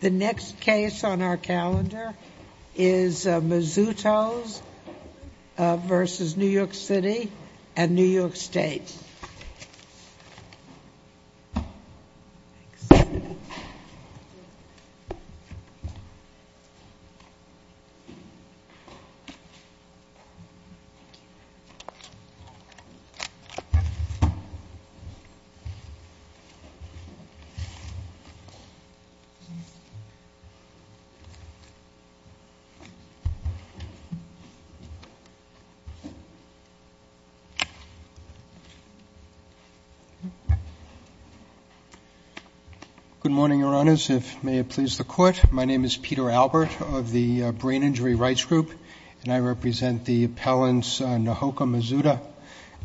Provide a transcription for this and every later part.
The next case on our calendar is Mizuta v. New York City and New York State. Good morning, Your Honors. If it may please the Court, my name is Peter Albert of the Brain Injury Rights Group, and I represent the appellants Nahoka Mizuta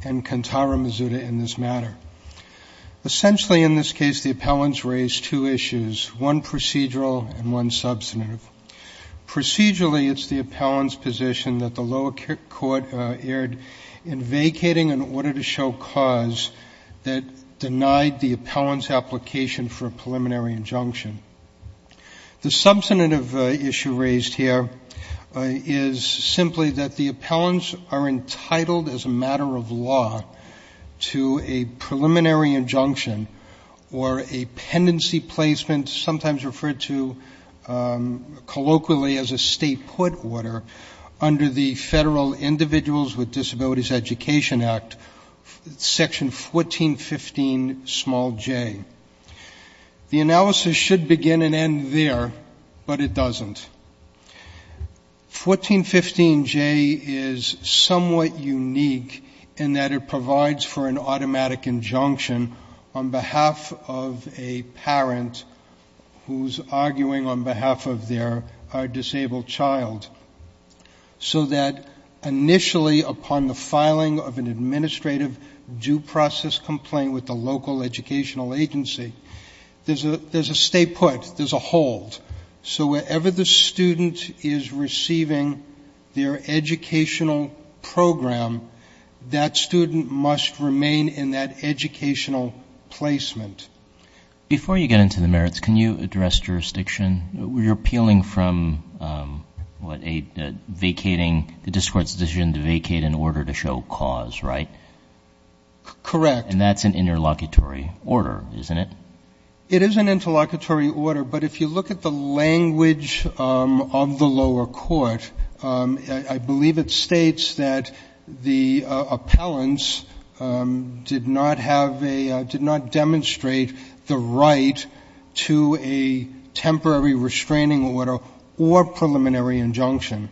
and Kantara Mizuta in this matter. Essentially, in this case, the appellants raise two issues, one procedural and one substantive. Procedurally, it's the appellant's position that the lower court erred in vacating an order to show cause that denied the appellant's application for a preliminary injunction. The substantive issue raised here is simply that the appellants are entitled as a matter of law to a preliminary injunction or a pendency placement, sometimes referred to colloquially as a state court order, under the Federal Individuals with Disabilities Education Act, section 1415 small j. The analysis should begin and end there, but it doesn't. 1415j is somewhat unique in that it provides for an automatic injunction on behalf of a parent who's arguing on behalf of their disabled child, so that initially upon the filing of an administrative due process complaint with the local educational agency, there's a stay student is receiving their educational program, that student must remain in that educational placement. Before you get into the merits, can you address jurisdiction? You're appealing from what a vacating the discourse decision to vacate an order to show cause, right? Correct. And that's an interlocutory order, isn't it? It is an interlocutory order, but if you look at the language of the lower court, I believe it states that the appellants did not demonstrate the right to a temporary restraining order or preliminary injunction.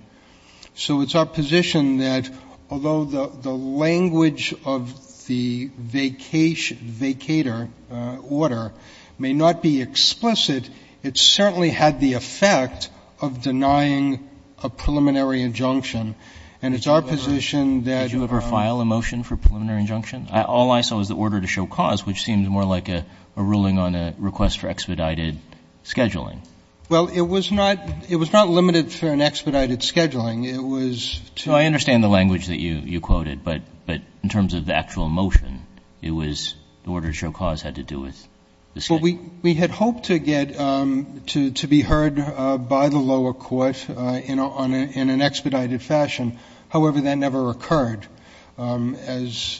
So it's our position that although the language of the vacator order may not be explicit, it certainly had the effect of denying a preliminary injunction. And it's our position that we're not going to do that. Roberts. Did you ever file a motion for preliminary injunction? All I saw was the order to show cause, which seems more like a ruling on a request for expedited scheduling. Well, it was not limited for an expedited scheduling. It was to the extent that I understand the language that you quoted, but in terms of the actual motion, it was the order to show cause had to do with the State. Well, we had hoped to get to be heard by the lower court in an expedited fashion. However, that never occurred. As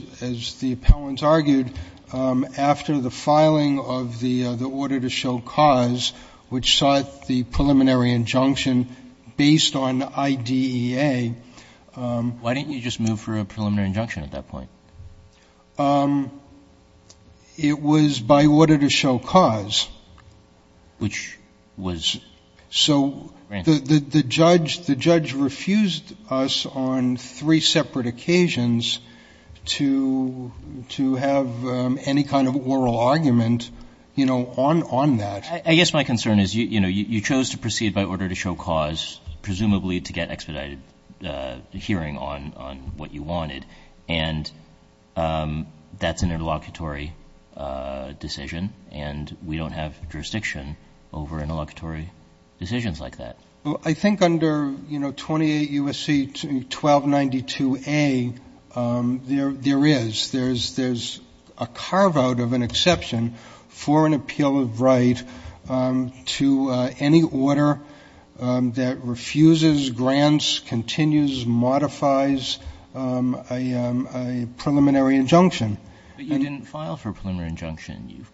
the appellants argued, after the filing of the order to show cause, which sought the preliminary injunction based on IDEA ‑‑ Why didn't you just move for a preliminary injunction at that point? It was by order to show cause. Which was? So the judge refused us on three separate occasions to have any kind of oral argument, you know, on that. I guess my concern is, you know, you chose to proceed by order to show cause, presumably to get expedited hearing on what you wanted, and that's an interlocutory decision, and we don't have jurisdiction over interlocutory decisions like that. I think under, you know, 28 U.S.C. 1292A, there is. There's a carveout of an exception for an appeal of right to any order that refuses, grants, continues, modifies a preliminary injunction. But you didn't file for a preliminary injunction.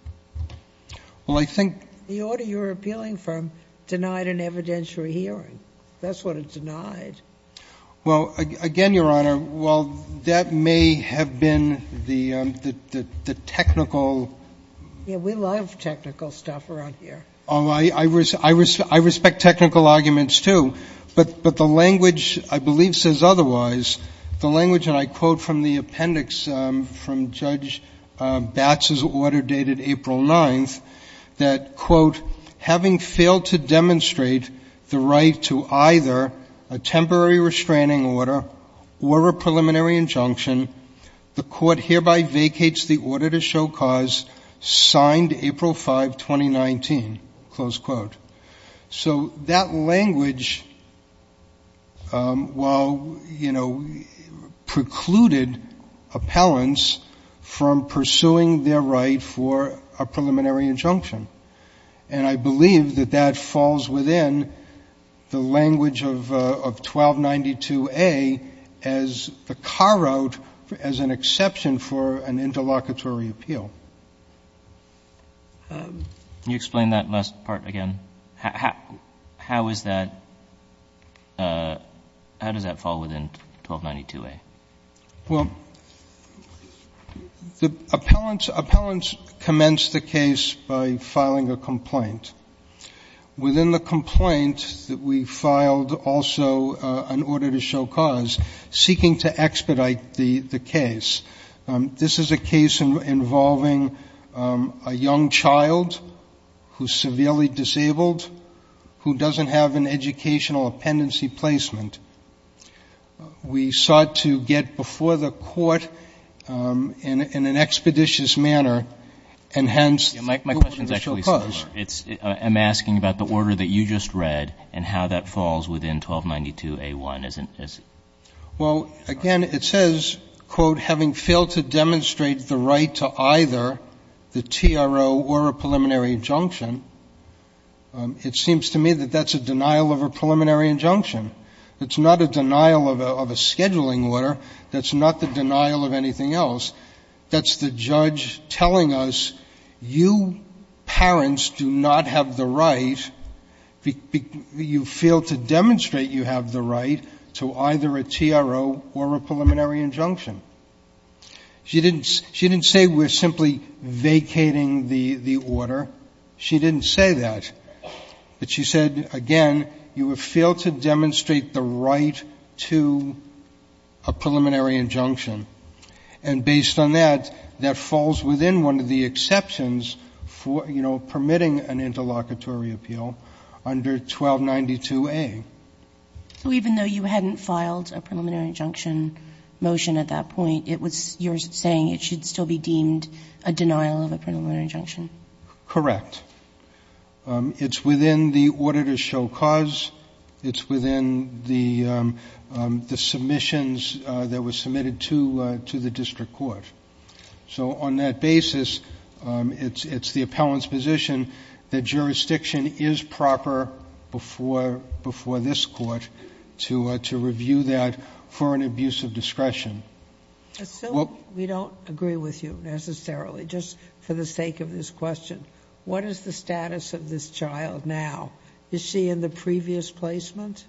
Well, I think ‑‑ The order you're appealing for denied an evidentiary hearing. That's what it denied. Well, again, Your Honor, while that may have been the technical ‑‑ Yeah, we love technical stuff around here. Oh, I respect technical arguments, too. But the language, I believe, says otherwise. The language, and I quote from the appendix from Judge Batz's order dated April 9th, that, quote, having failed to demonstrate the right to either a temporary restraining order or a preliminary injunction, the court hereby vacates the order to show cause signed April 5, 2019, close quote. So that language, while, you know, precluded appellants from pursuing their right for a preliminary injunction, and I believe that that falls within the language of 1292A as the carveout as an exception for an interlocutory appeal. Can you explain that last part again? How is that ‑‑ how does that fall within 1292A? Well, the appellants commence the case by filing a complaint. Within the complaint, we filed also an order to show cause, seeking to expedite the case. This is a case involving a young child who is severely disabled, who doesn't have an educational appendency placement. We sought to get before the court in an expeditious manner, and hence ‑‑ My question is actually similar. I'm asking about the order that you just read and how that falls within 1292A1. Well, again, it says, quote, having failed to demonstrate the right to either the TRO or a preliminary injunction, it seems to me that that's a denial of a preliminary injunction. It's not a denial of a scheduling order. That's not the denial of anything else. That's the judge telling us, you parents do not have the right, you fail to demonstrate you have the right to either a TRO or a preliminary injunction. She didn't say we're simply vacating the order. She didn't say that. But she said, again, you have failed to demonstrate the right to a preliminary injunction. And based on that, that falls within one of the exceptions for, you know, permitting an interlocutory appeal under 1292A. So even though you hadn't filed a preliminary injunction motion at that point, it was ‑‑ you're saying it should still be deemed a denial of a preliminary injunction? Correct. It's within the order to show cause. It's within the submissions that were submitted to the district court. So on that basis, it's the appellant's position that jurisdiction is proper before this court to review that for an abuse of discretion. I assume we don't agree with you necessarily, just for the sake of this question. What is the status of this child now? Is she in the previous placement?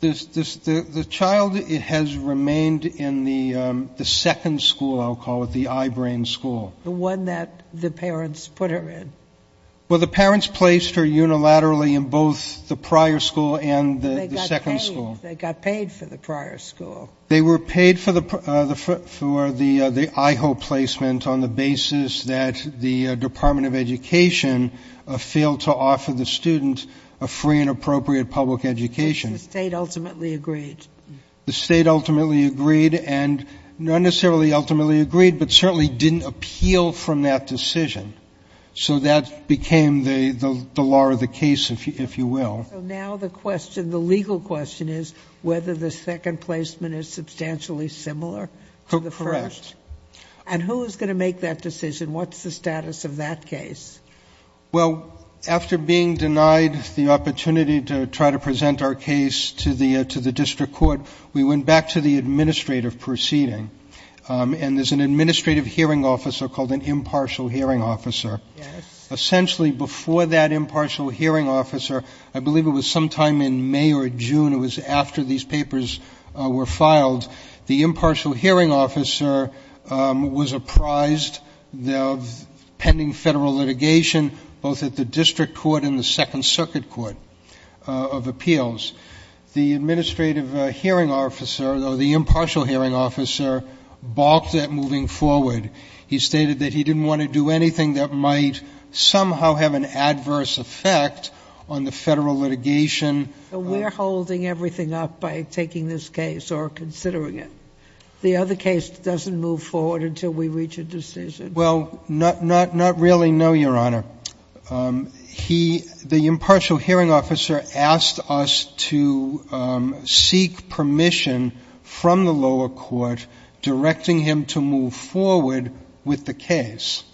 The child has remained in the second school, I'll call it, the I‑Brain school. The one that the parents put her in? Well, the parents placed her unilaterally in both the prior school and the second school. They got paid for the prior school. They were paid for the I‑Hope placement on the basis that the Department of Education failed to offer the student a free and appropriate public education. The State ultimately agreed. The State ultimately agreed, and not necessarily ultimately agreed, but certainly didn't appeal from that decision. So that became the law of the case, if you will. So now the question, the legal question is whether the second placement is substantially similar to the first. Correct. And who is going to make that decision? What's the status of that case? Well, after being denied the opportunity to try to present our case to the district court, we went back to the administrative proceeding, and there's an administrative hearing officer called an impartial hearing officer. Yes. Essentially before that impartial hearing officer, I believe it was sometime in May or June, it was after these papers were filed, the impartial hearing officer was apprised of pending federal litigation, both at the district court and the Second Circuit Court of Appeals. The administrative hearing officer, or the impartial hearing officer, balked at moving forward. He stated that he didn't want to do anything that might somehow have an adverse effect on the federal litigation. We're holding everything up by taking this case or considering it. The other case doesn't move forward until we reach a decision. Well, not really, no, Your Honor. The impartial hearing officer asked us to seek permission from the lower court directing him to move forward with the case.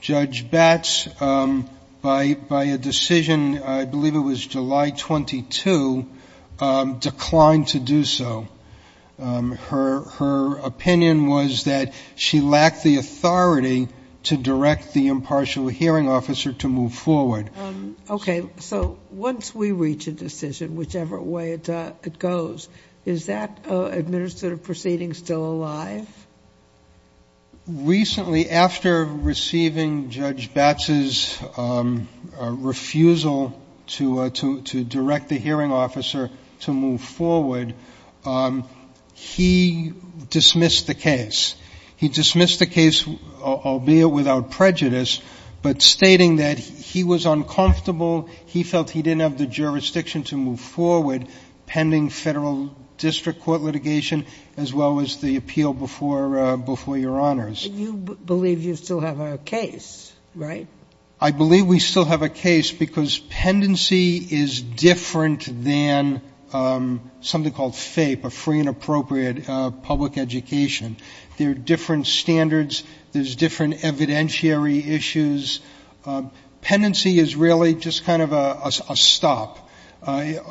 Judge Batts, by a decision, I believe it was July 22, declined to do so. Her opinion was that she lacked the authority to direct the impartial hearing officer to move forward. Okay, so once we reach a decision, whichever way it goes, is that administrative proceeding still alive? Recently, after receiving Judge Batts' refusal to direct the hearing officer to move forward, he dismissed the case. He dismissed the case, albeit without prejudice, but stating that he was uncomfortable, he felt he didn't have the jurisdiction to move forward pending federal district court litigation as well as the appeal before Your Honors. You believe you still have a case, right? I believe we still have a case because pendency is different than something called FAPE, a free and appropriate public education. There are different standards. There's different evidentiary issues. Pendency is really just kind of a stop.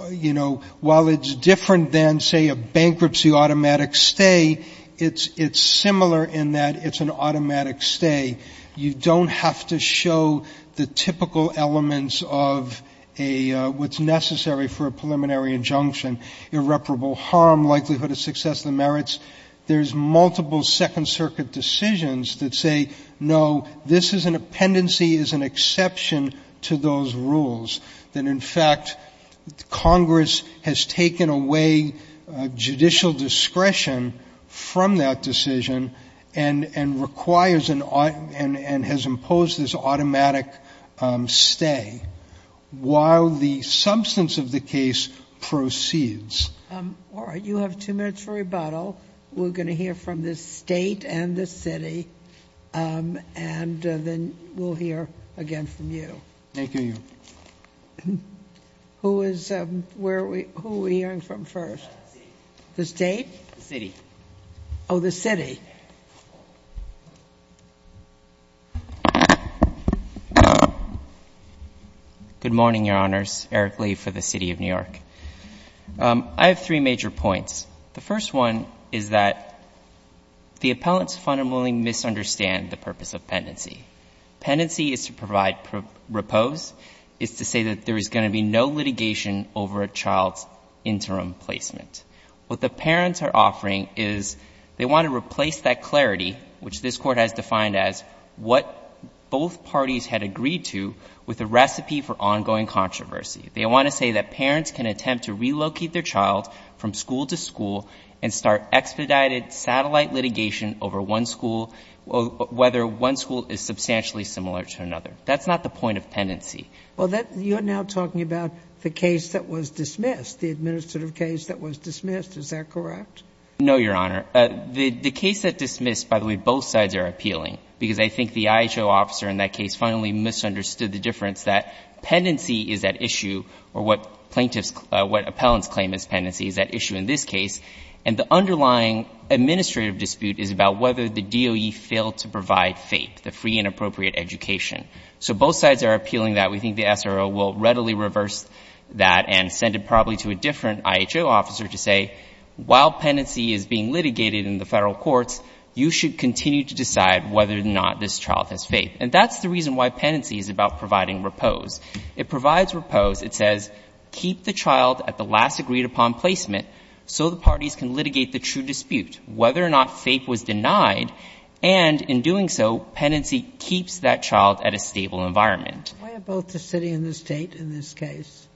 You know, while it's different than, say, a bankruptcy automatic stay, it's similar in that it's an automatic stay. You don't have to show the typical elements of what's necessary for a preliminary injunction, irreparable harm, likelihood of success, the merits. There's multiple Second Circuit decisions that say, no, this is an exception to those rules, that, in fact, Congress has taken away judicial discretion from that decision and requires and has imposed this automatic stay while the substance of the case proceeds. All right. You have two minutes for rebuttal. And then we'll hear again from you. Thank you, Your Honor. Who is, where are we, who are we hearing from first? The state? The city. Oh, the city. Good morning, Your Honors. Eric Lee for the City of New York. I have three major points. The first one is that the appellants fundamentally misunderstand the purpose of pendency. Pendency is to provide repose, is to say that there is going to be no litigation over a child's interim placement. What the parents are offering is they want to replace that clarity, which this Court has defined as what both parties had agreed to, with a recipe for ongoing controversy. They want to say that parents can attempt to relocate their child from school to school and start expedited satellite litigation over one school, whether one school is substantially similar to another. That's not the point of pendency. Well, that, you're now talking about the case that was dismissed, the administrative case that was dismissed. Is that correct? No, Your Honor. The case that dismissed, by the way, both sides are appealing, because I think the IHO officer in that case finally misunderstood the difference that pendency is at issue, or what plaintiffs, what appellants claim as pendency is at issue in this case, and the underlying administrative dispute is about whether the DOE failed to provide FAPE, the free and appropriate education. So both sides are appealing that. We think the SRO will readily reverse that and send it probably to a different IHO officer to say, while pendency is being litigated in the Federal courts, you should continue to decide whether or not this child has FAPE. And that's the reason why pendency is about providing repose. It provides repose. It says, keep the child at the last agreed-upon placement so the parties can litigate the true dispute, whether or not FAPE was denied, and in doing so, pendency keeps that child at a stable environment. Why are both the City and the State in this case?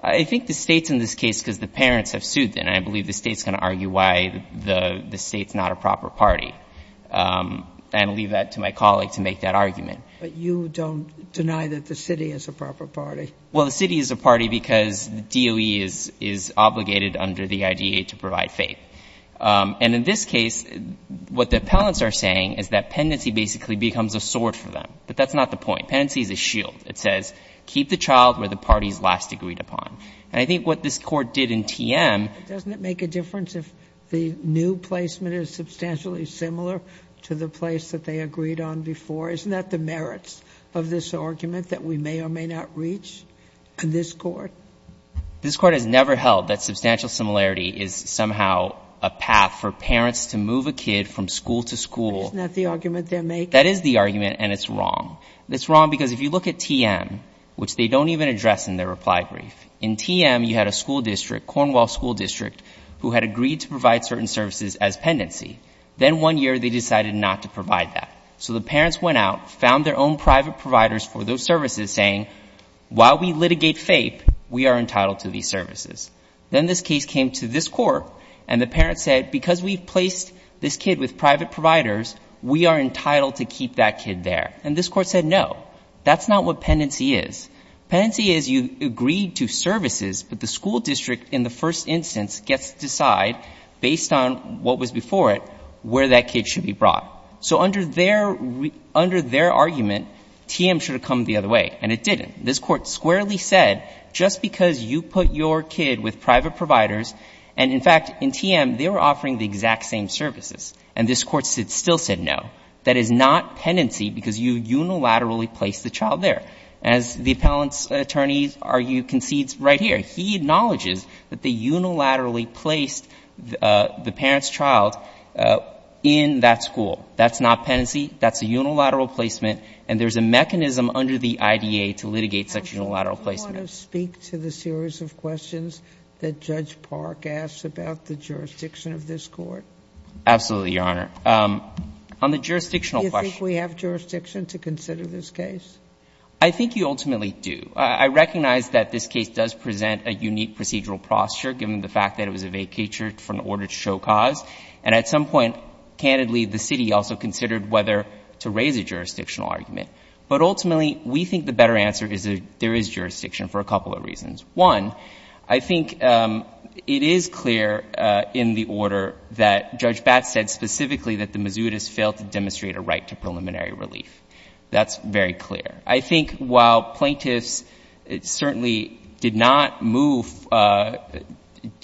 I think the State's in this case because the parents have sued them. And I believe the State's going to argue why the State's not a proper party. And I'll leave that to my colleague to make that argument. But you don't deny that the City is a proper party? Well, the City is a party because the DOE is obligated under the IDEA to provide FAPE. And in this case, what the appellants are saying is that pendency basically becomes a sword for them. But that's not the point. Pendency is a shield. It says, keep the child where the parties last agreed upon. And I think what this Court did in TM — But doesn't it make a difference if the new placement is substantially similar to the place that they agreed on before? Isn't that the merits of this argument that we may or may not reach in this Court? This Court has never held that substantial similarity is somehow a path for parents to move a kid from school to school. Isn't that the argument they're making? That is the argument, and it's wrong. It's wrong because if you look at TM, which they don't even address in their reply brief, in TM, you had a school district, Cornwall School District, who had agreed to provide certain services as pendency. Then one year, they decided not to provide that. So the parents went out, found their own private providers for those services, saying, while we litigate FAPE, we are entitled to these services. Then this case came to this Court, and the parents said, because we've placed this kid with private providers, we are entitled to keep that kid there. And this Court said, no. That's not what pendency is. Pendency is you agreed to services, but the school district in the first instance gets to decide, based on what was before it, where that kid should be brought. So under their argument, TM should have come the other way, and it didn't. This Court squarely said, just because you put your kid with private providers, and in fact, in TM, they were offering the exact same services, and this Court still said no, that is not pendency because you unilaterally placed the child there. As the appellant's attorneys argue concedes right here, he acknowledges that they unilaterally placed the parent's child in that school. That's not pendency. That's a unilateral placement. And there's a mechanism under the IDA to litigate such unilateral placement. Do you want to speak to the series of questions that Judge Park asks about the jurisdiction of this Court? Absolutely, Your Honor. On the jurisdictional question. Do you think we have jurisdiction to consider this case? I think you ultimately do. I recognize that this case does present a unique procedural posture, given the fact that it was a vacatur for an order to show cause. And at some point, candidly, the city also considered whether to raise a jurisdictional argument. But ultimately, we think the better answer is that there is jurisdiction for a couple of reasons. One, I think it is clear in the order that Judge Batts said specifically that the Mizzoutis failed to demonstrate a right to preliminary relief. That's very clear. I think while plaintiffs certainly did not move,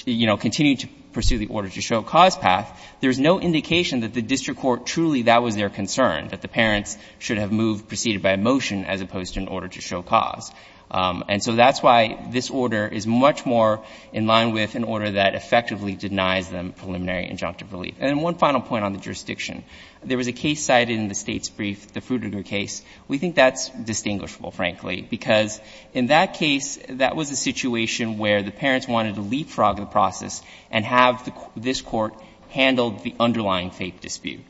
you know, continue to pursue the order to show cause path, there's no indication that the district court truly that was their concern, that the parents should have moved, proceeded by a motion as opposed to an order to show cause. And so that's why this order is much more in line with an order that effectively denies them preliminary injunctive relief. And one final point on the jurisdiction. There was a case cited in the State's brief, the Frutiger case. We think that's distinguishable, frankly, because in that case, that was a situation where the parents wanted to leapfrog the process and have this court handle the underlying faith dispute.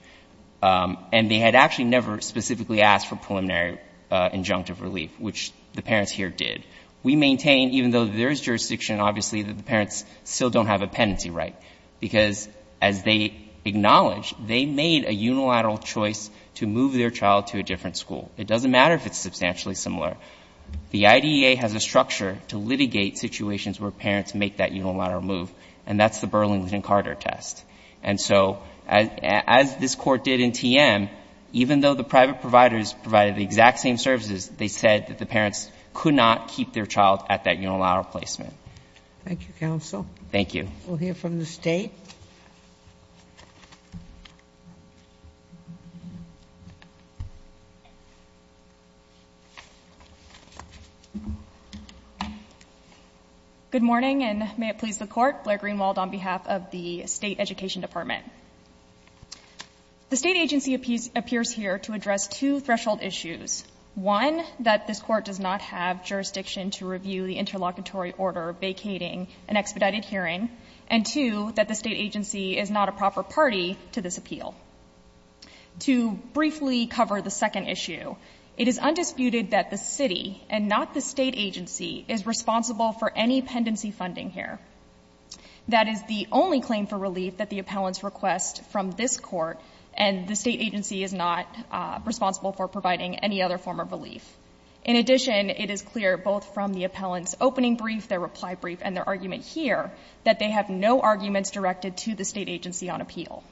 And they had actually never specifically asked for preliminary injunctive relief, which the parents here did. We maintain, even though there is jurisdiction, obviously, that the parents still don't have a penalty right, because as they acknowledged, they made a unilateral choice to move their child to a different school. It doesn't matter if it's substantially similar. The IDEA has a structure to litigate situations where parents make that unilateral move, and that's the Burlington-Carter test. And so as this Court did in TM, even though the private providers provided the exact same services, they said that the parents could not keep their child at that unilateral placement. Thank you, counsel. Thank you. We'll hear from the State. Good morning, and may it please the Court. Blair Greenwald on behalf of the State Education Department. The State agency appears here to address two threshold issues. One, that this Court does not have jurisdiction to review the interlocutory order vacating an expedited hearing. And two, that the State agency is not a proper party to this appeal. To briefly cover the second issue, it is undisputed that the City and not the State agency is responsible for any pendency funding here. That is the only claim for relief that the appellants request from this Court, and the State agency is not responsible for providing any other form of relief. In addition, it is clear both from the appellants' opening brief, their reply brief, and their argument here, that they have no arguments directed to the State agency on appeal.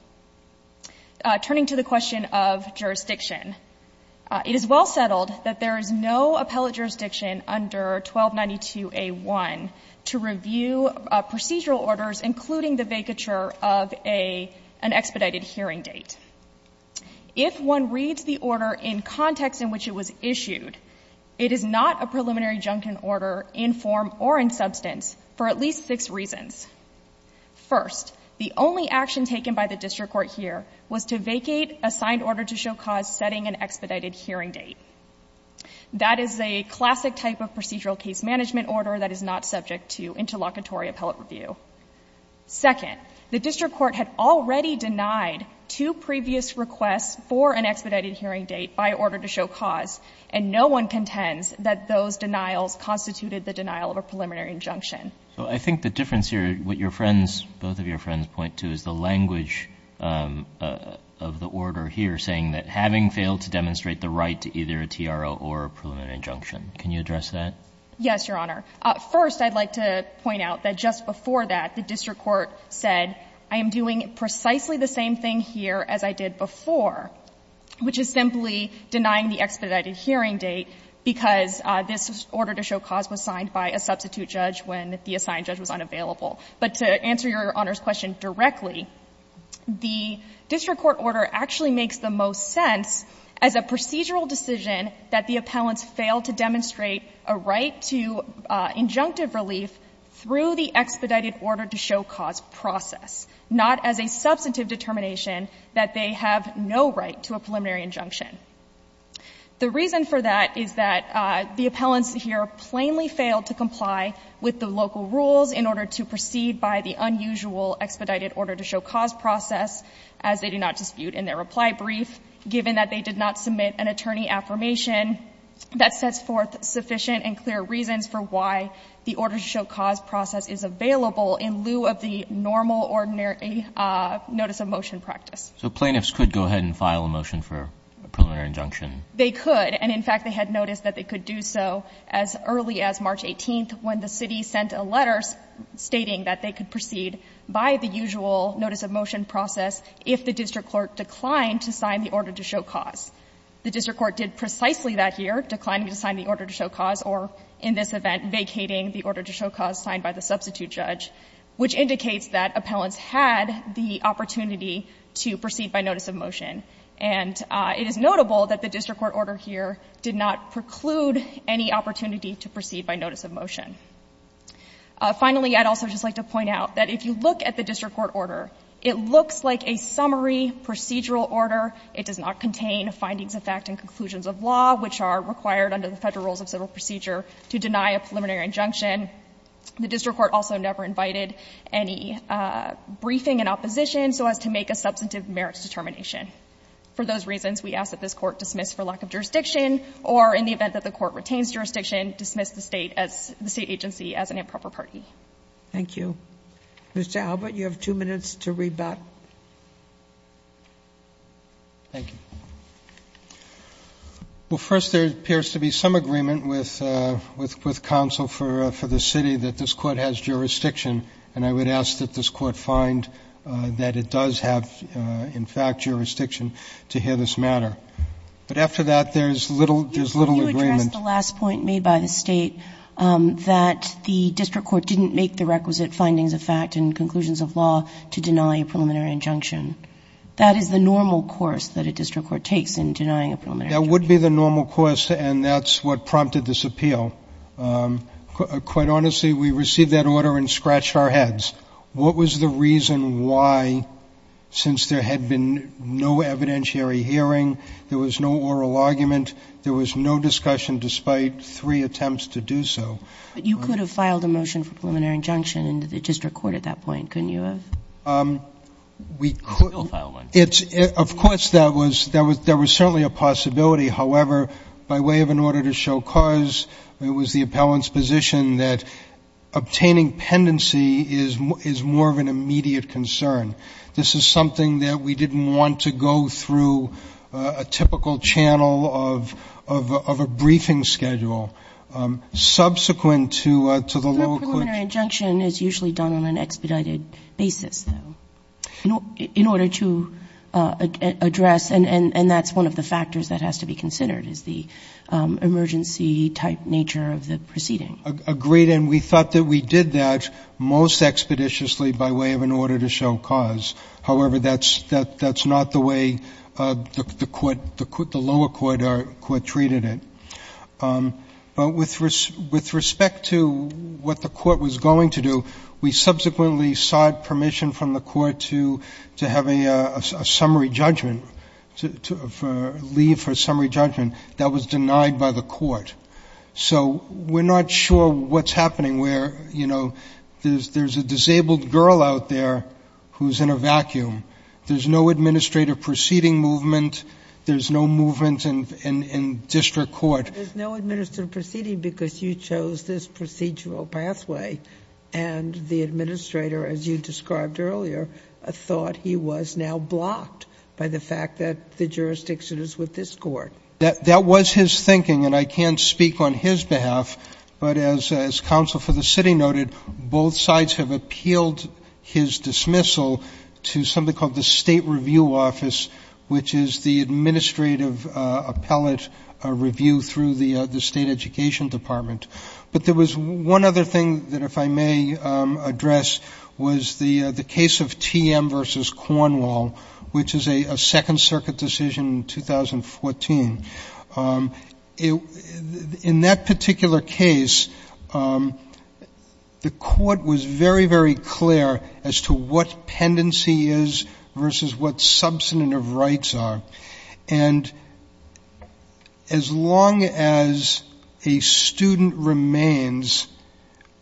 Turning to the question of jurisdiction, it is well settled that there is no appellate jurisdiction under 1292A1 to review procedural orders, including the vacature of an expedited hearing date. If one reads the order in context in which it was issued, it is not a preliminary order in form or in substance for at least six reasons. First, the only action taken by the District Court here was to vacate a signed order to show cause setting an expedited hearing date. That is a classic type of procedural case management order that is not subject to interlocutory appellate review. Second, the District Court had already denied two previous requests for an expedited hearing date by order to show cause, and no one contends that those denials constituted the denial of a preliminary injunction. So I think the difference here, what your friends, both of your friends point to, is the language of the order here saying that having failed to demonstrate the right to either a TRO or a preliminary injunction. Can you address that? Yes, Your Honor. First, I'd like to point out that just before that, the District Court said, I am doing precisely the same thing here as I did before, which is simply denying the expedited hearing date because this order to show cause was signed by a substitute judge when the assigned judge was unavailable. But to answer Your Honor's question directly, the District Court order actually makes the most sense as a procedural decision that the appellants failed to demonstrate a right to injunctive relief through the expedited order to show cause process, not as a substantive determination that they have no right to a preliminary injunction. The reason for that is that the appellants here plainly failed to comply with the local rules in order to proceed by the unusual expedited order to show cause process as they do not dispute in their reply brief, given that they did not submit an attorney affirmation that sets forth sufficient and clear reasons for why the order to show cause process is available in lieu of the normal, ordinary notice of motion practice. So plaintiffs could go ahead and file a motion for a preliminary injunction. They could. And in fact, they had noticed that they could do so as early as March 18th, when the city sent a letter stating that they could proceed by the usual notice of motion process if the District Court declined to sign the order to show cause. The District Court did precisely that here, declining to sign the order to show cause or, in this event, vacating the order to show cause signed by the substitute judge, which indicates that appellants had the opportunity to proceed by notice of motion. And it is notable that the District Court order here did not preclude any opportunity to proceed by notice of motion. Finally, I'd also just like to point out that if you look at the District Court order, it looks like a summary procedural order. It does not contain findings of fact and conclusions of law, which are required under the Federal Rules of Civil Procedure to deny a preliminary injunction. The District Court also never invited any briefing in opposition so as to make a substantive merits determination. For those reasons, we ask that this Court dismiss for lack of jurisdiction or, in the event that the Court retains jurisdiction, dismiss the State as the State agency as an improper party. Thank you. Mr. Albert, you have two minutes to rebut. Thank you. Well, first, there appears to be some agreement with counsel for the city that this Court has jurisdiction, and I would ask that this Court find that it does have, in fact, jurisdiction to hear this matter. But after that, there's little agreement. You addressed the last point made by the State, that the District Court didn't make the requisite findings of fact and conclusions of law to deny a preliminary injunction. That is the normal course that a District Court takes in denying a preliminary injunction. That would be the normal course, and that's what prompted this appeal. Quite honestly, we received that order and scratched our heads. What was the reason why, since there had been no evidentiary hearing, there was no oral argument, there was no discussion despite three attempts to do so? But you could have filed a motion for preliminary injunction in the District Court at that point, couldn't you have? Of course, there was certainly a possibility. However, by way of an order to show cause, it was the appellant's position that obtaining pendency is more of an immediate concern. This is something that we didn't want to go through a typical channel of a briefing schedule. Subsequent to the lower court's ---- In order to address, and that's one of the factors that has to be considered, is the emergency-type nature of the proceeding. Agreed, and we thought that we did that most expeditiously by way of an order to show cause. However, that's not the way the lower court treated it. But with respect to what the court was going to do, we subsequently sought permission from the court to have a summary judgment, to leave for a summary judgment. That was denied by the court. So we're not sure what's happening where, you know, there's a disabled girl out there who's in a vacuum. There's no administrative proceeding movement. There's no movement in District Court. There's no administrative proceeding because you chose this procedural pathway and the administrator, as you described earlier, thought he was now blocked by the fact that the jurisdiction is with this court. That was his thinking, and I can't speak on his behalf, but as counsel for the city noted, both sides have appealed his dismissal to something called the State Review Office, which is the administrative appellate review through the State Education Department. But there was one other thing that, if I may address, was the case of TM versus Cornwall, which is a Second Circuit decision in 2014. In that particular case, the court was very, very clear as to what pendency is versus what substantive rights are. And as long as a student remains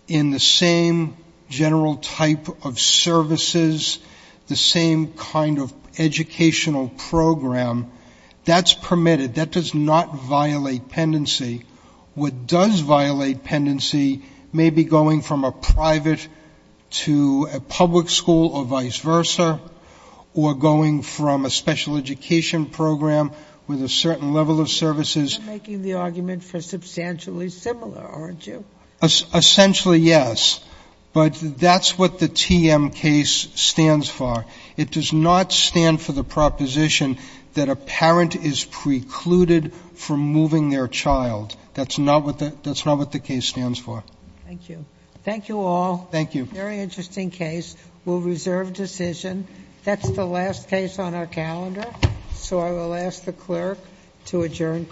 in the same general type of services, the same kind of educational program, that's permitted. That does not violate pendency. What does violate pendency may be going from a private to a public school or vice versa, or going from a special education program with a certain level of services. You're making the argument for substantially similar, aren't you? Essentially, yes. But that's what the TM case stands for. It does not stand for the proposition that a parent is precluded from moving their child. That's not what the case stands for. Thank you. Thank you all. Thank you. Very interesting case. We'll reserve decision. That's the last case on our calendar. So I will ask the clerk to adjourn court.